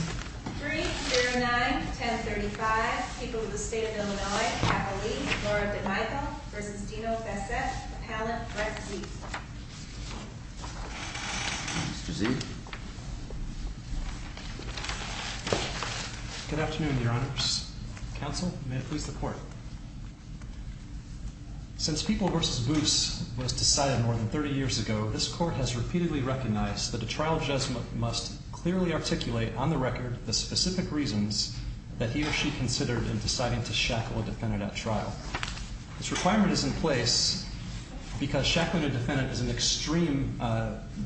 3-0-9, 10-35, People v. State of Illinois, Appellee, Laura D'Amico v. Dino Bassett, Appellant, Brett Zietz Mr. Zietz Good afternoon, Your Honors. Counsel, may it please the Court. Since People v. Boots was decided more than 30 years ago, this Court has repeatedly recognized that a trial judge must clearly articulate on the record the specific reasons that he or she considered in deciding to shackle a defendant at trial. This requirement is in place because shackling a defendant is an extreme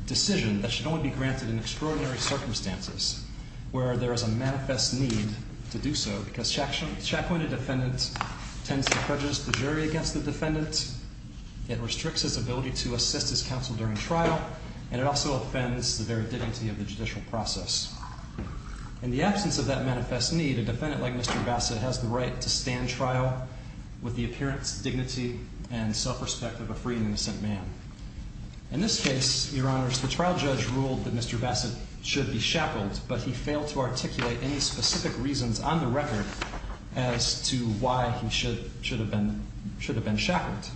decision that should only be granted in extraordinary circumstances, where there is a manifest need to do so because shackling a defendant tends to prejudice the jury against the defendant, it restricts his ability to assist his counsel during trial, and it also offends the very dignity of the judicial process. In the absence of that manifest need, a defendant like Mr. Bassett has the right to stand trial with the appearance, dignity, and self-respect of a free and innocent man. In this case, Your Honors, the trial judge ruled that Mr. Bassett should be shackled, but he failed to articulate any specific reasons on the record as to why he should have been shackled.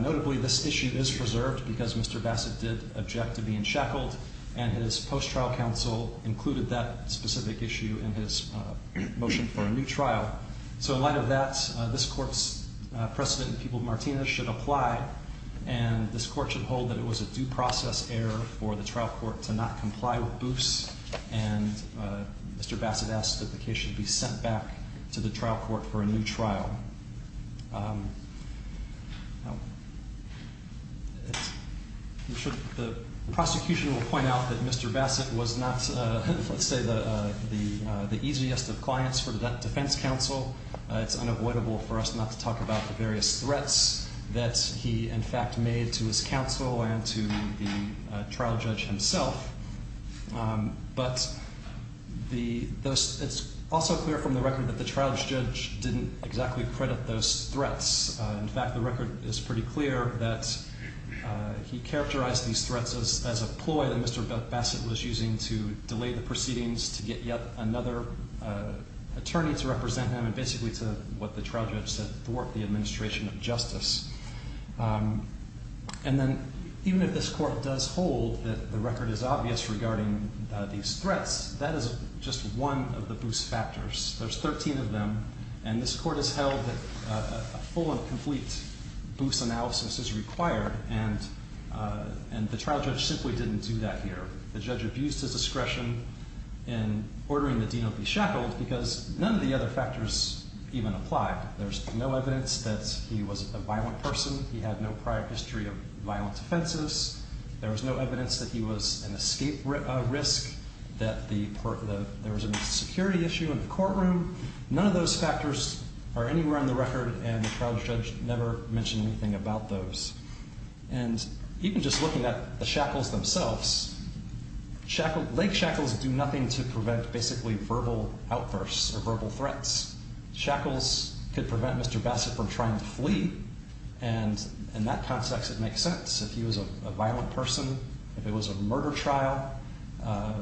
Notably, this issue is preserved because Mr. Bassett did object to being shackled, and his post-trial counsel included that specific issue in his motion for a new trial. So in light of that, this Court's precedent in People Martinez should apply, and this Court should hold that it was a due process error for the trial court to not comply with Booth's, and Mr. Bassett asks that the case should be sent back to the trial court for a new trial. I'm sure the prosecution will point out that Mr. Bassett was not, let's say, the easiest of clients for that defense counsel. It's unavoidable for us not to talk about the various threats that he, in fact, made to his counsel and to the trial judge himself, but it's also clear from the record that the trial judge didn't exactly credit those threats. In fact, the record is pretty clear that he characterized these threats as a ploy that Mr. Bassett was using to delay the proceedings, to get yet another attorney to represent him, and basically to, what the trial judge said, thwart the administration of justice. And then, even if this Court does hold that the record is obvious regarding these threats, that is just one of the Booth's factors. There's 13 of them, and this Court has held that a full and complete Booth's analysis is required, and the trial judge simply didn't do that here. The judge abused his discretion in ordering the Dino be shackled because none of the other factors even applied. There's no evidence that he was a violent person. He had no prior history of violent offenses. There was no evidence that he was an escape risk, that there was a security issue in the courtroom. None of those factors are anywhere on the record, and the trial judge never mentioned anything about those. And even just looking at the shackles themselves, leg shackles do nothing to prevent basically verbal outbursts or verbal threats. Shackles could prevent Mr. Bassett from trying to flee, and in that context, it makes sense. If he was a violent person, if it was a murder trial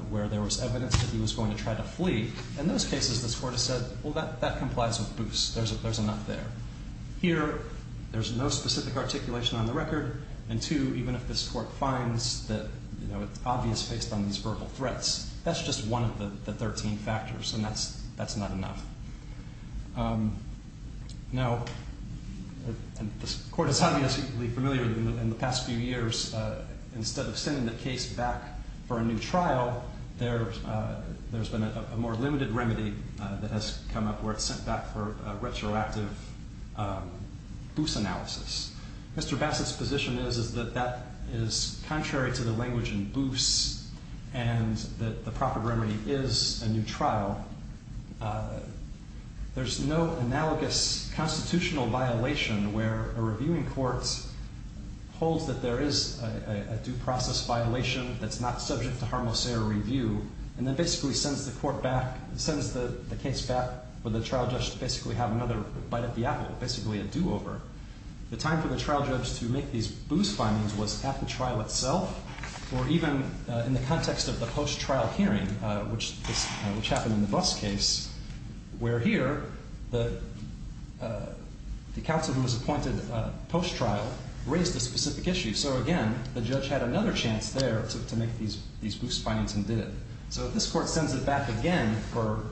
where there was evidence that he was going to try to flee, in those cases, this Court has said, well, that complies with Booth's. There's a nut there. Here, there's no specific articulation on the record, and two, even if this Court finds that it's obvious based on these verbal threats, that's just one of the 13 factors, and that's not enough. Now, this Court is obviously familiar in the past few years, instead of sending the case back for a new trial, there's been a more limited remedy that has come up where it's sent back for a retroactive Booth's analysis. Mr. Bassett's position is that that is contrary to the language in Booth's, and that the proper remedy is a new trial. There's no analogous constitutional violation where a reviewing court holds that there is a due process violation that's not subject to harmless error review, and then basically sends the case back for the trial judge to basically have another bite at the apple, basically a do-over. The time for the trial judge to make these Booth's findings was at the trial itself, or even in the context of the post-trial hearing, which happened in the Buss case, where here, the counsel who was appointed post-trial raised a specific issue. So, again, the judge had another chance there to make these Booth's findings and did it. So if this Court sends it back again for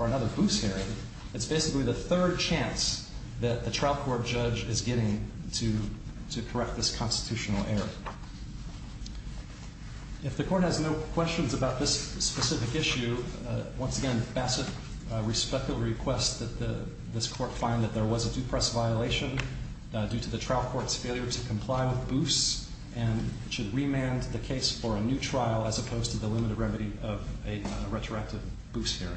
another Booth's hearing, it's basically the third chance that the trial court judge is getting to correct this constitutional error. If the Court has no questions about this specific issue, once again, Bassett respectfully requests that this Court find that there was a due process violation due to the trial court's failure to comply with Booth's, and should remand the case for a new trial as opposed to the limited remedy of a retroactive Booth's hearing.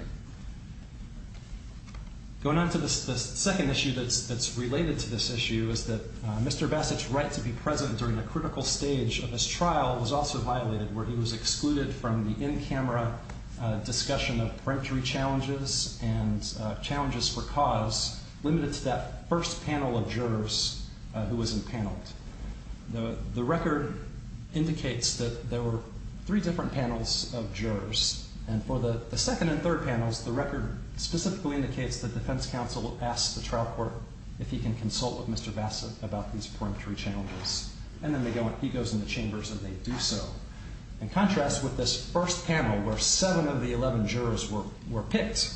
Going on to the second issue that's related to this issue is that Mr. Bassett's right to be present during a critical stage of his trial was also violated, where he was excluded from the in-camera discussion of preemptory challenges and challenges for cause, limited to that first panel of jurors who was impaneled. The record indicates that there were three different panels of jurors, and for the second and third panels, the record specifically indicates that the defense counsel asked the trial court if he can consult with Mr. Bassett about these preemptory challenges. And then he goes in the chambers and they do so. In contrast, with this first panel, where seven of the 11 jurors were picked,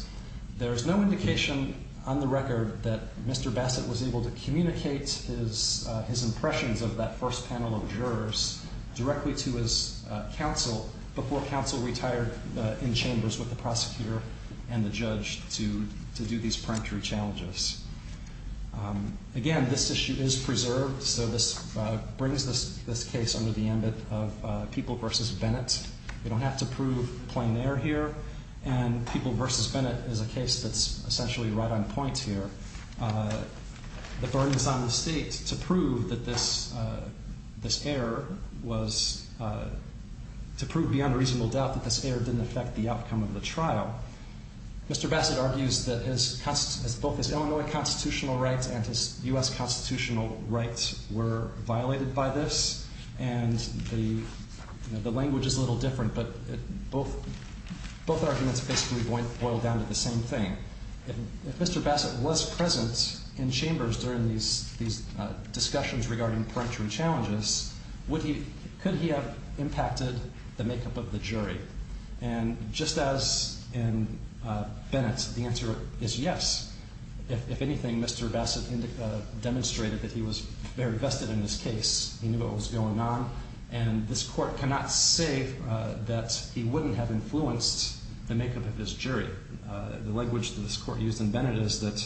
there is no indication on the record that Mr. Bassett was able to communicate his impressions of that first panel of jurors directly to his counsel before counsel retired in chambers with the prosecutor and the judge to do these preemptory challenges. Again, this issue is preserved, so this brings this case under the ambit of People v. Bennett. We don't have to prove plain error here, and People v. Bennett is a case that's essentially right on point here. The burden is on the state to prove that this error was, to prove beyond a reasonable doubt that this error didn't affect the outcome of the trial. Mr. Bassett argues that both his Illinois constitutional rights and his U.S. constitutional rights were violated by this, and the language is a little different, but both arguments basically boil down to the same thing. If Mr. Bassett was present in chambers during these discussions regarding preemptory challenges, could he have impacted the makeup of the jury? Just as in Bennett, the answer is yes. If anything, Mr. Bassett demonstrated that he was very vested in this case. He knew what was going on, and this court cannot say that he wouldn't have influenced the makeup of this jury. The language that this court used in Bennett is that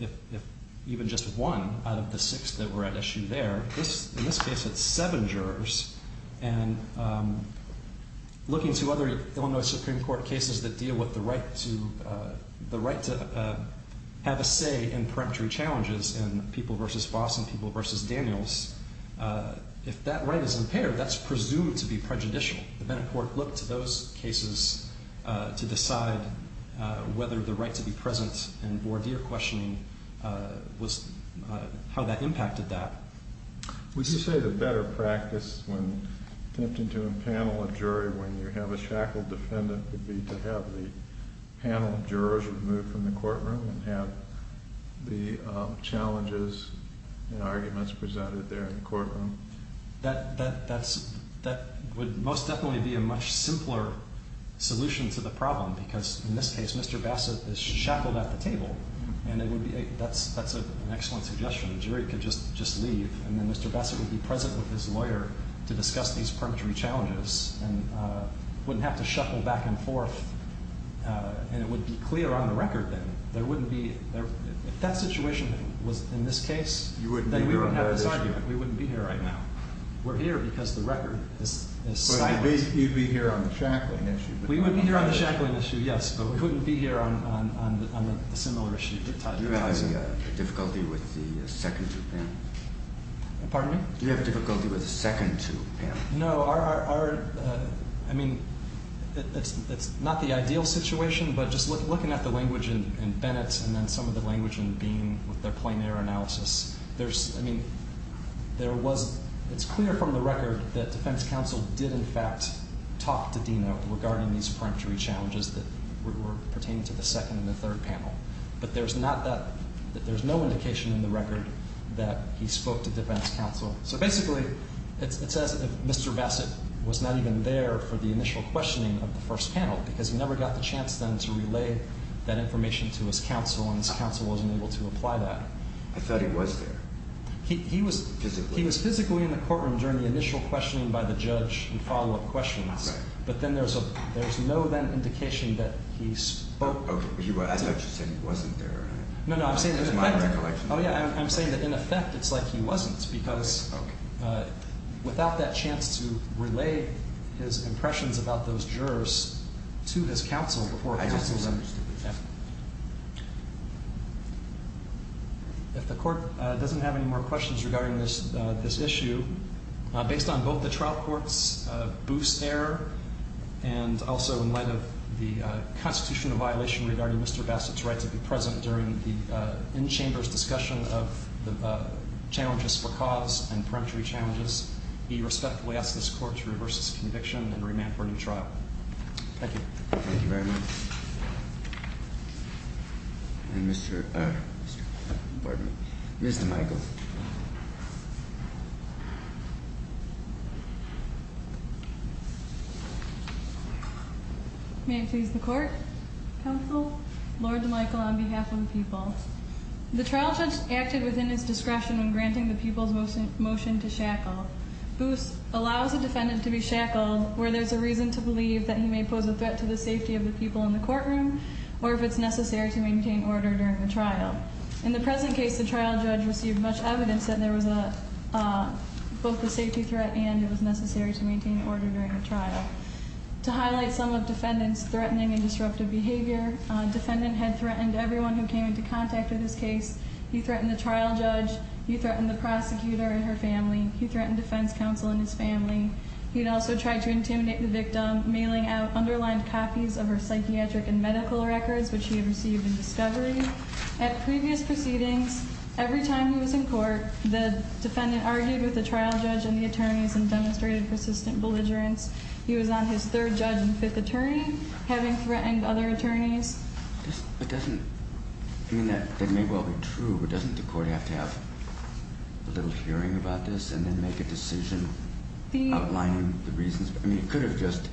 if even just one out of the six that were at issue there, in this case it's seven jurors, and looking to other Illinois Supreme Court cases that deal with the right to have a say in preemptory challenges and People v. Boss and People v. Daniels, if that right is impaired, that's presumed to be prejudicial. The Bennett court looked to those cases to decide whether the right to be present in voir dire questioning, how that impacted that. Would you say the better practice when attempting to impanel a jury, when you have a shackled defendant, would be to have the panel of jurors removed from the courtroom and have the challenges and arguments presented there in the courtroom? That would most definitely be a much simpler solution to the problem, because in this case Mr. Bassett is shackled at the table, and that's an excellent suggestion. The jury could just leave, and then Mr. Bassett would be present with his lawyer to discuss these preemptory challenges and wouldn't have to shackle back and forth, and it would be clear on the record then. If that situation was in this case, then we wouldn't have this argument. We wouldn't be here right now. We're here because the record is silent. You'd be here on the shackling issue. We would be here on the shackling issue, yes, but we wouldn't be here on the similar issue. Do you have any difficulty with the second two panels? Pardon me? Do you have difficulty with the second two panels? No. I mean, it's not the ideal situation, but just looking at the language in Bennett's and then some of the language in Beam with their plain error analysis, there's, I mean, there was, it's clear from the record that defense counsel did in fact talk to Dean Oak regarding these preemptory challenges that were pertaining to the second and the third panel, but there's not that, there's no indication in the record that he spoke to defense counsel. So basically, it says that Mr. Bassett was not even there for the initial questioning of the first panel because he never got the chance then to relay that information to his counsel, and his counsel wasn't able to apply that. I thought he was there. He was physically in the courtroom during the initial questioning by the judge and follow-up questions. Right. But then there's no then indication that he spoke. Okay. I thought you said he wasn't there. No, no, I'm saying that in effect. Oh, yeah, I'm saying that in effect it's like he wasn't because without that chance to relay his impressions about those jurors to his counsel before counsel's I understand. Yeah. If the court doesn't have any more questions regarding this issue, based on both the trial court's boost error and also in light of the constitutional violation regarding Mr. Bassett's right to be present during the in-chamber's discussion of the challenges for cause and peremptory challenges, we respectfully ask this court to reverse its conviction and remand for a new trial. Thank you. Thank you very much. And Mr. – pardon me – Ms. DeMichael. May it please the court. Counsel. Lord DeMichael on behalf of the people. The trial judge acted within his discretion when granting the people's motion to shackle. Boost allows a defendant to be shackled where there's a reason to believe that he may pose a threat to the safety of the people in the courtroom or if it's necessary to maintain order during the trial. In the present case, the trial judge received much evidence that there was both a safety threat and it was necessary to maintain order during the trial. To highlight some of defendant's threatening and disruptive behavior, defendant had threatened everyone who came into contact with his case. He threatened the trial judge. He threatened the prosecutor and her family. He threatened defense counsel and his family. He had also tried to intimidate the victim, mailing out underlined copies of her psychiatric and medical records, which he had received in discovery. At previous proceedings, every time he was in court, the defendant argued with the trial judge and the attorneys and demonstrated persistent belligerence. He was on his third judge and fifth attorney, having threatened other attorneys. It doesn't, I mean, that may well be true, but doesn't the court have to have a little hearing about this and then make a decision outlining the reasons? I mean, it could have just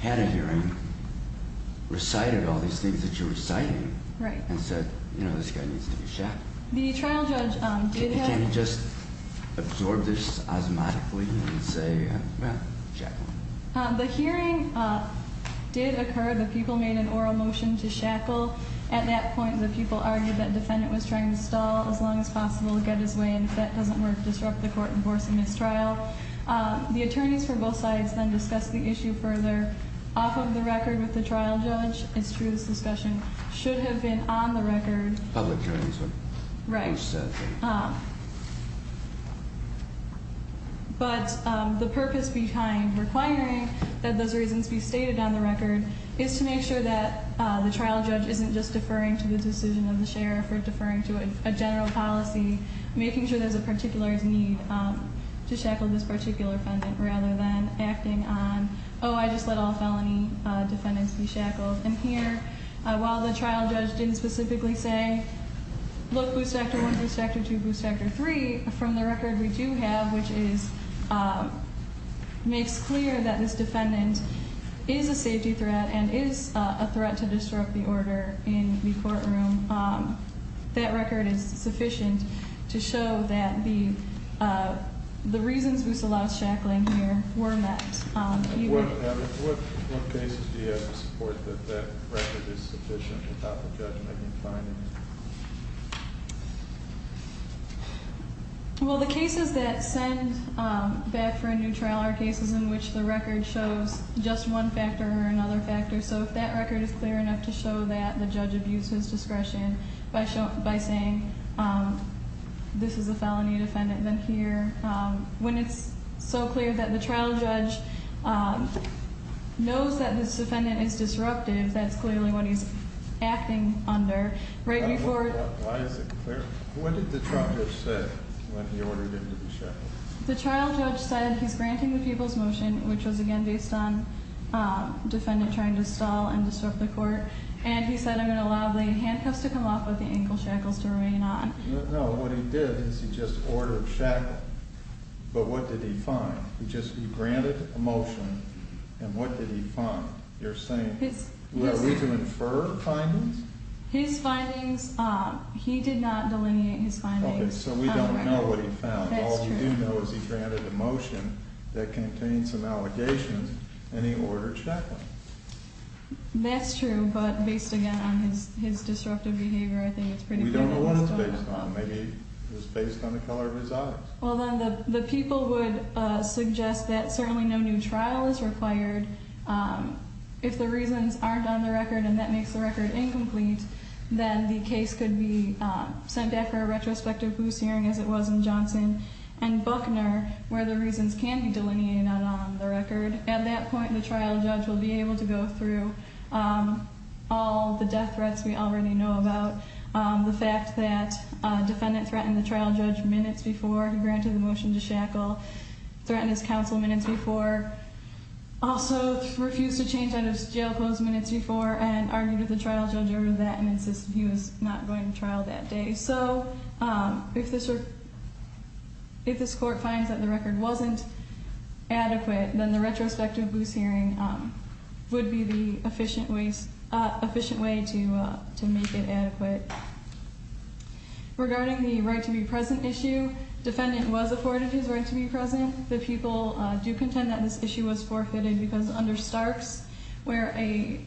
had a hearing, recited all these things that you're reciting, and said, you know, this guy needs to be shackled. The trial judge did have- You can't just absorb this asthmatically and say, well, shackle him. The hearing did occur. The people made an oral motion to shackle. At that point, the people argued that defendant was trying to stall as long as possible, get his way, and if that doesn't work, disrupt the court, enforce a mistrial. The attorneys for both sides then discussed the issue further off of the record with the trial judge. It's true, this discussion should have been on the record. Public hearings. Right. But the purpose behind requiring that those reasons be stated on the record is to make sure that the trial judge isn't just deferring to the decision of the sheriff or deferring to a general policy, making sure there's a particular need to shackle this particular defendant rather than acting on, oh, I just let all felony defendants be shackled. And here, while the trial judge didn't specifically say, look, Booth Factor I, Booth Factor II, Booth Factor III, from the record we do have, which makes clear that this defendant is a safety threat and is a threat to disrupt the order in the courtroom, that record is sufficient to show that the reasons Booth allows shackling here were met. What cases do you have to support that that record is sufficient without the judge making findings? Well, the cases that send back for a new trial are cases in which the record shows just one factor or another factor. So if that record is clear enough to show that the judge abused his discretion by saying this is a felony defendant, then here, when it's so clear that the trial judge knows that this defendant is disruptive, that's clearly what he's acting under. Why is it clear? What did the trial judge say when he ordered him to be shackled? The trial judge said he's granting the people's motion, which was, again, based on defendant trying to stall and disrupt the court, and he said I'm going to allow the handcuffs to come off but the ankle shackles to remain on. No, what he did is he just ordered shackling, but what did he find? He just granted a motion, and what did he find? Are we to infer findings? His findings, he did not delineate his findings. Okay, so we don't know what he found. All we do know is he granted a motion that contained some allegations, and he ordered shackling. That's true, but based, again, on his disruptive behavior, I think it's pretty clear. We don't know what it's based on. Maybe it's based on the color of his eyes. Well, then the people would suggest that certainly no new trial is required. If the reasons aren't on the record and that makes the record incomplete, then the case could be sent back for a retrospective Booth hearing, as it was in Johnson and Buckner, where the reasons can be delineated and not on the record. At that point, the trial judge will be able to go through all the death threats we already know about, the fact that a defendant threatened the trial judge minutes before he granted the motion to shackle, threatened his counsel minutes before, also refused to change out of jail pose minutes before and argued with the trial judge over that and insisted he was not going to trial that day. So if this court finds that the record wasn't adequate, then the retrospective Booth hearing would be the efficient way to make it adequate. Regarding the right to be present issue, defendant was afforded his right to be present. The people do contend that this issue was forfeited because under Starks, where a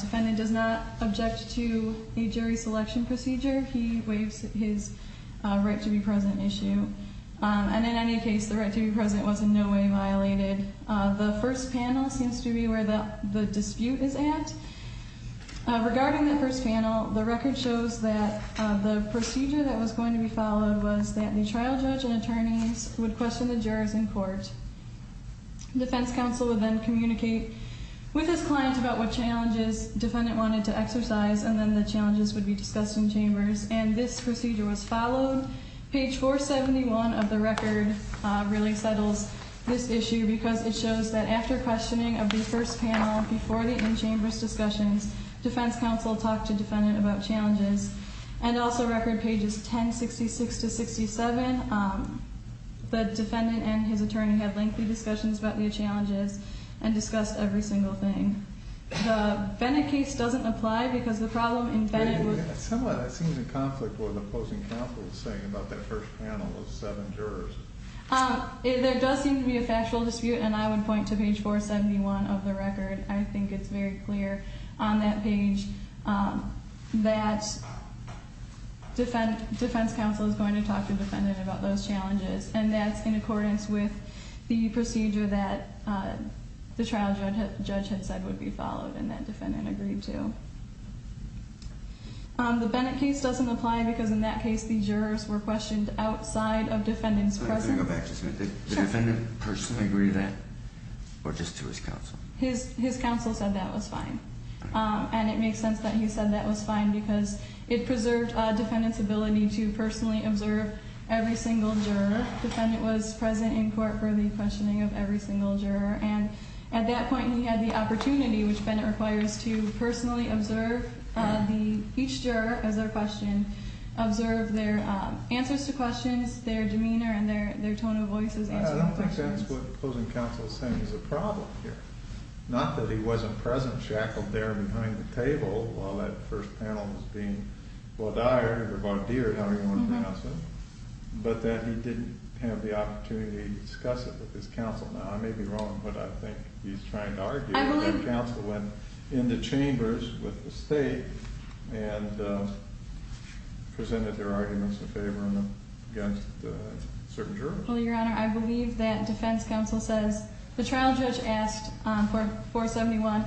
defendant does not object to a jury selection procedure, he waives his right to be present issue. And in any case, the right to be present was in no way violated. The first panel seems to be where the dispute is at. Regarding the first panel, the record shows that the procedure that was going to be followed was that the trial judge and attorneys would question the jurors in court. Defense counsel would then communicate with his client about what challenges defendant wanted to exercise and then the challenges would be discussed in chambers. And this procedure was followed. Page 471 of the record really settles this issue because it shows that after questioning of the first panel, before the in-chambers discussions, defense counsel talked to defendant about challenges. And also record pages 1066 to 67, the defendant and his attorney had lengthy discussions about new challenges and discussed every single thing. The Bennett case doesn't apply because the problem in Bennett was... It somewhat seems in conflict with what the opposing counsel is saying about that first panel of seven jurors. There does seem to be a factual dispute, and I would point to page 471 of the record. I think it's very clear on that page that defense counsel is going to talk to defendant about those challenges, and that's in accordance with the procedure that the trial judge had said would be followed and that defendant agreed to. The Bennett case doesn't apply because in that case the jurors were questioned outside of defendant's presence. Let me go back just a minute. Did the defendant personally agree to that or just to his counsel? His counsel said that was fine. And it makes sense that he said that was fine because it preserved defendant's ability to personally observe every single juror. Defendant was present in court for the questioning of every single juror. And at that point he had the opportunity, which Bennett requires, to personally observe each juror as they're questioned, observe their answers to questions, their demeanor, and their tone of voice as they answer questions. I don't think that's what the opposing counsel is saying is the problem here. Not that he wasn't present, shackled there behind the table while that first panel was being bodiered or bodiered, however you want to pronounce it, but that he didn't have the opportunity to discuss it with his counsel. Now, I may be wrong, but I think he's trying to argue that counsel went into chambers with the state and presented their arguments in favor and against certain jurors. Well, Your Honor, I believe that defense counsel says the trial judge asked 471,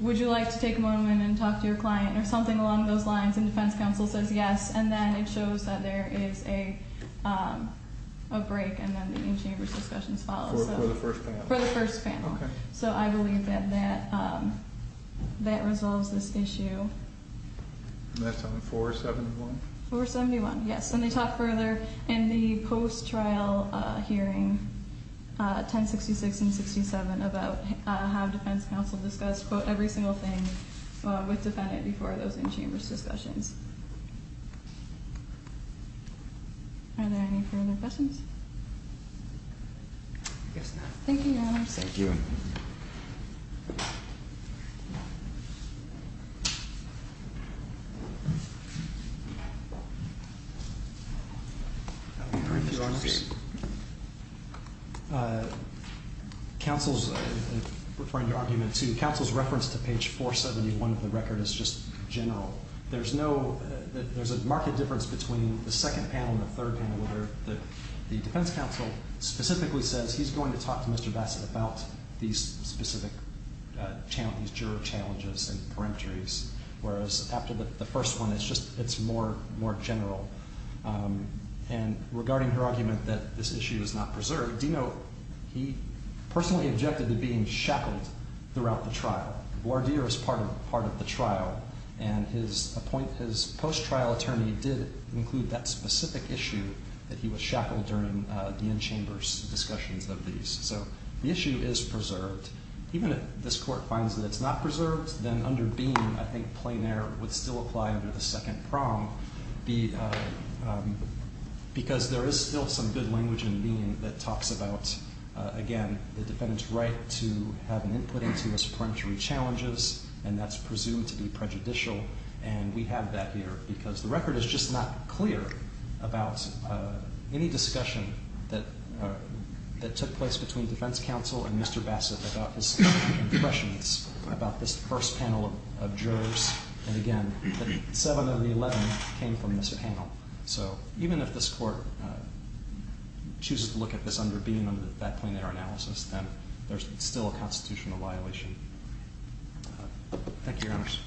would you like to take a moment and talk to your client or something along those lines, and defense counsel says yes. And then it shows that there is a break and then the in-chambers discussions follow. For the first panel. For the first panel. Okay. So I believe that that resolves this issue. And that's on 471? 471, yes. And they talk further in the post-trial hearing, 1066 and 67, about how defense counsel discussed, quote, every single thing with defendant before those in-chambers discussions. Are there any further questions? I guess not. Thank you, Your Honor. Thank you. Your Honor, counsel is referring to argument two. Counsel's reference to page 471 of the record is just general. There's a marked difference between the second panel and the third panel where the defense counsel specifically says he's going to talk to Mr. Bassett about these specific juror challenges and peremptories, whereas after the first one it's more general. And regarding her argument that this issue is not preserved, do you know he personally objected to being shackled throughout the trial. Wardeer is part of the trial, and his post-trial attorney did include that specific issue that he was shackled during the in-chambers discussions of these. So the issue is preserved. Even if this court finds that it's not preserved, then under Beam I think plein air would still apply under the second prong, because there is still some good language in Beam that talks about, again, the defendant's right to have an input into his peremptory challenges, and that's presumed to be prejudicial, and we have that here because the record is just not clear about any discussion that took place between defense counsel and Mr. Bassett about his impressions about this first panel of jurors. And again, the 7 of the 11 came from this panel. So even if this court chooses to look at this under Beam, under that plein air analysis, then there's still a constitutional violation. Thank you, Your Honors.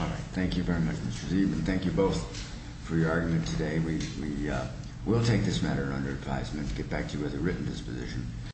All right. Thank you very much, Mr. Zeidman. Thank you both for your argument today. We will take this matter under advisement to get back to you with a written disposition.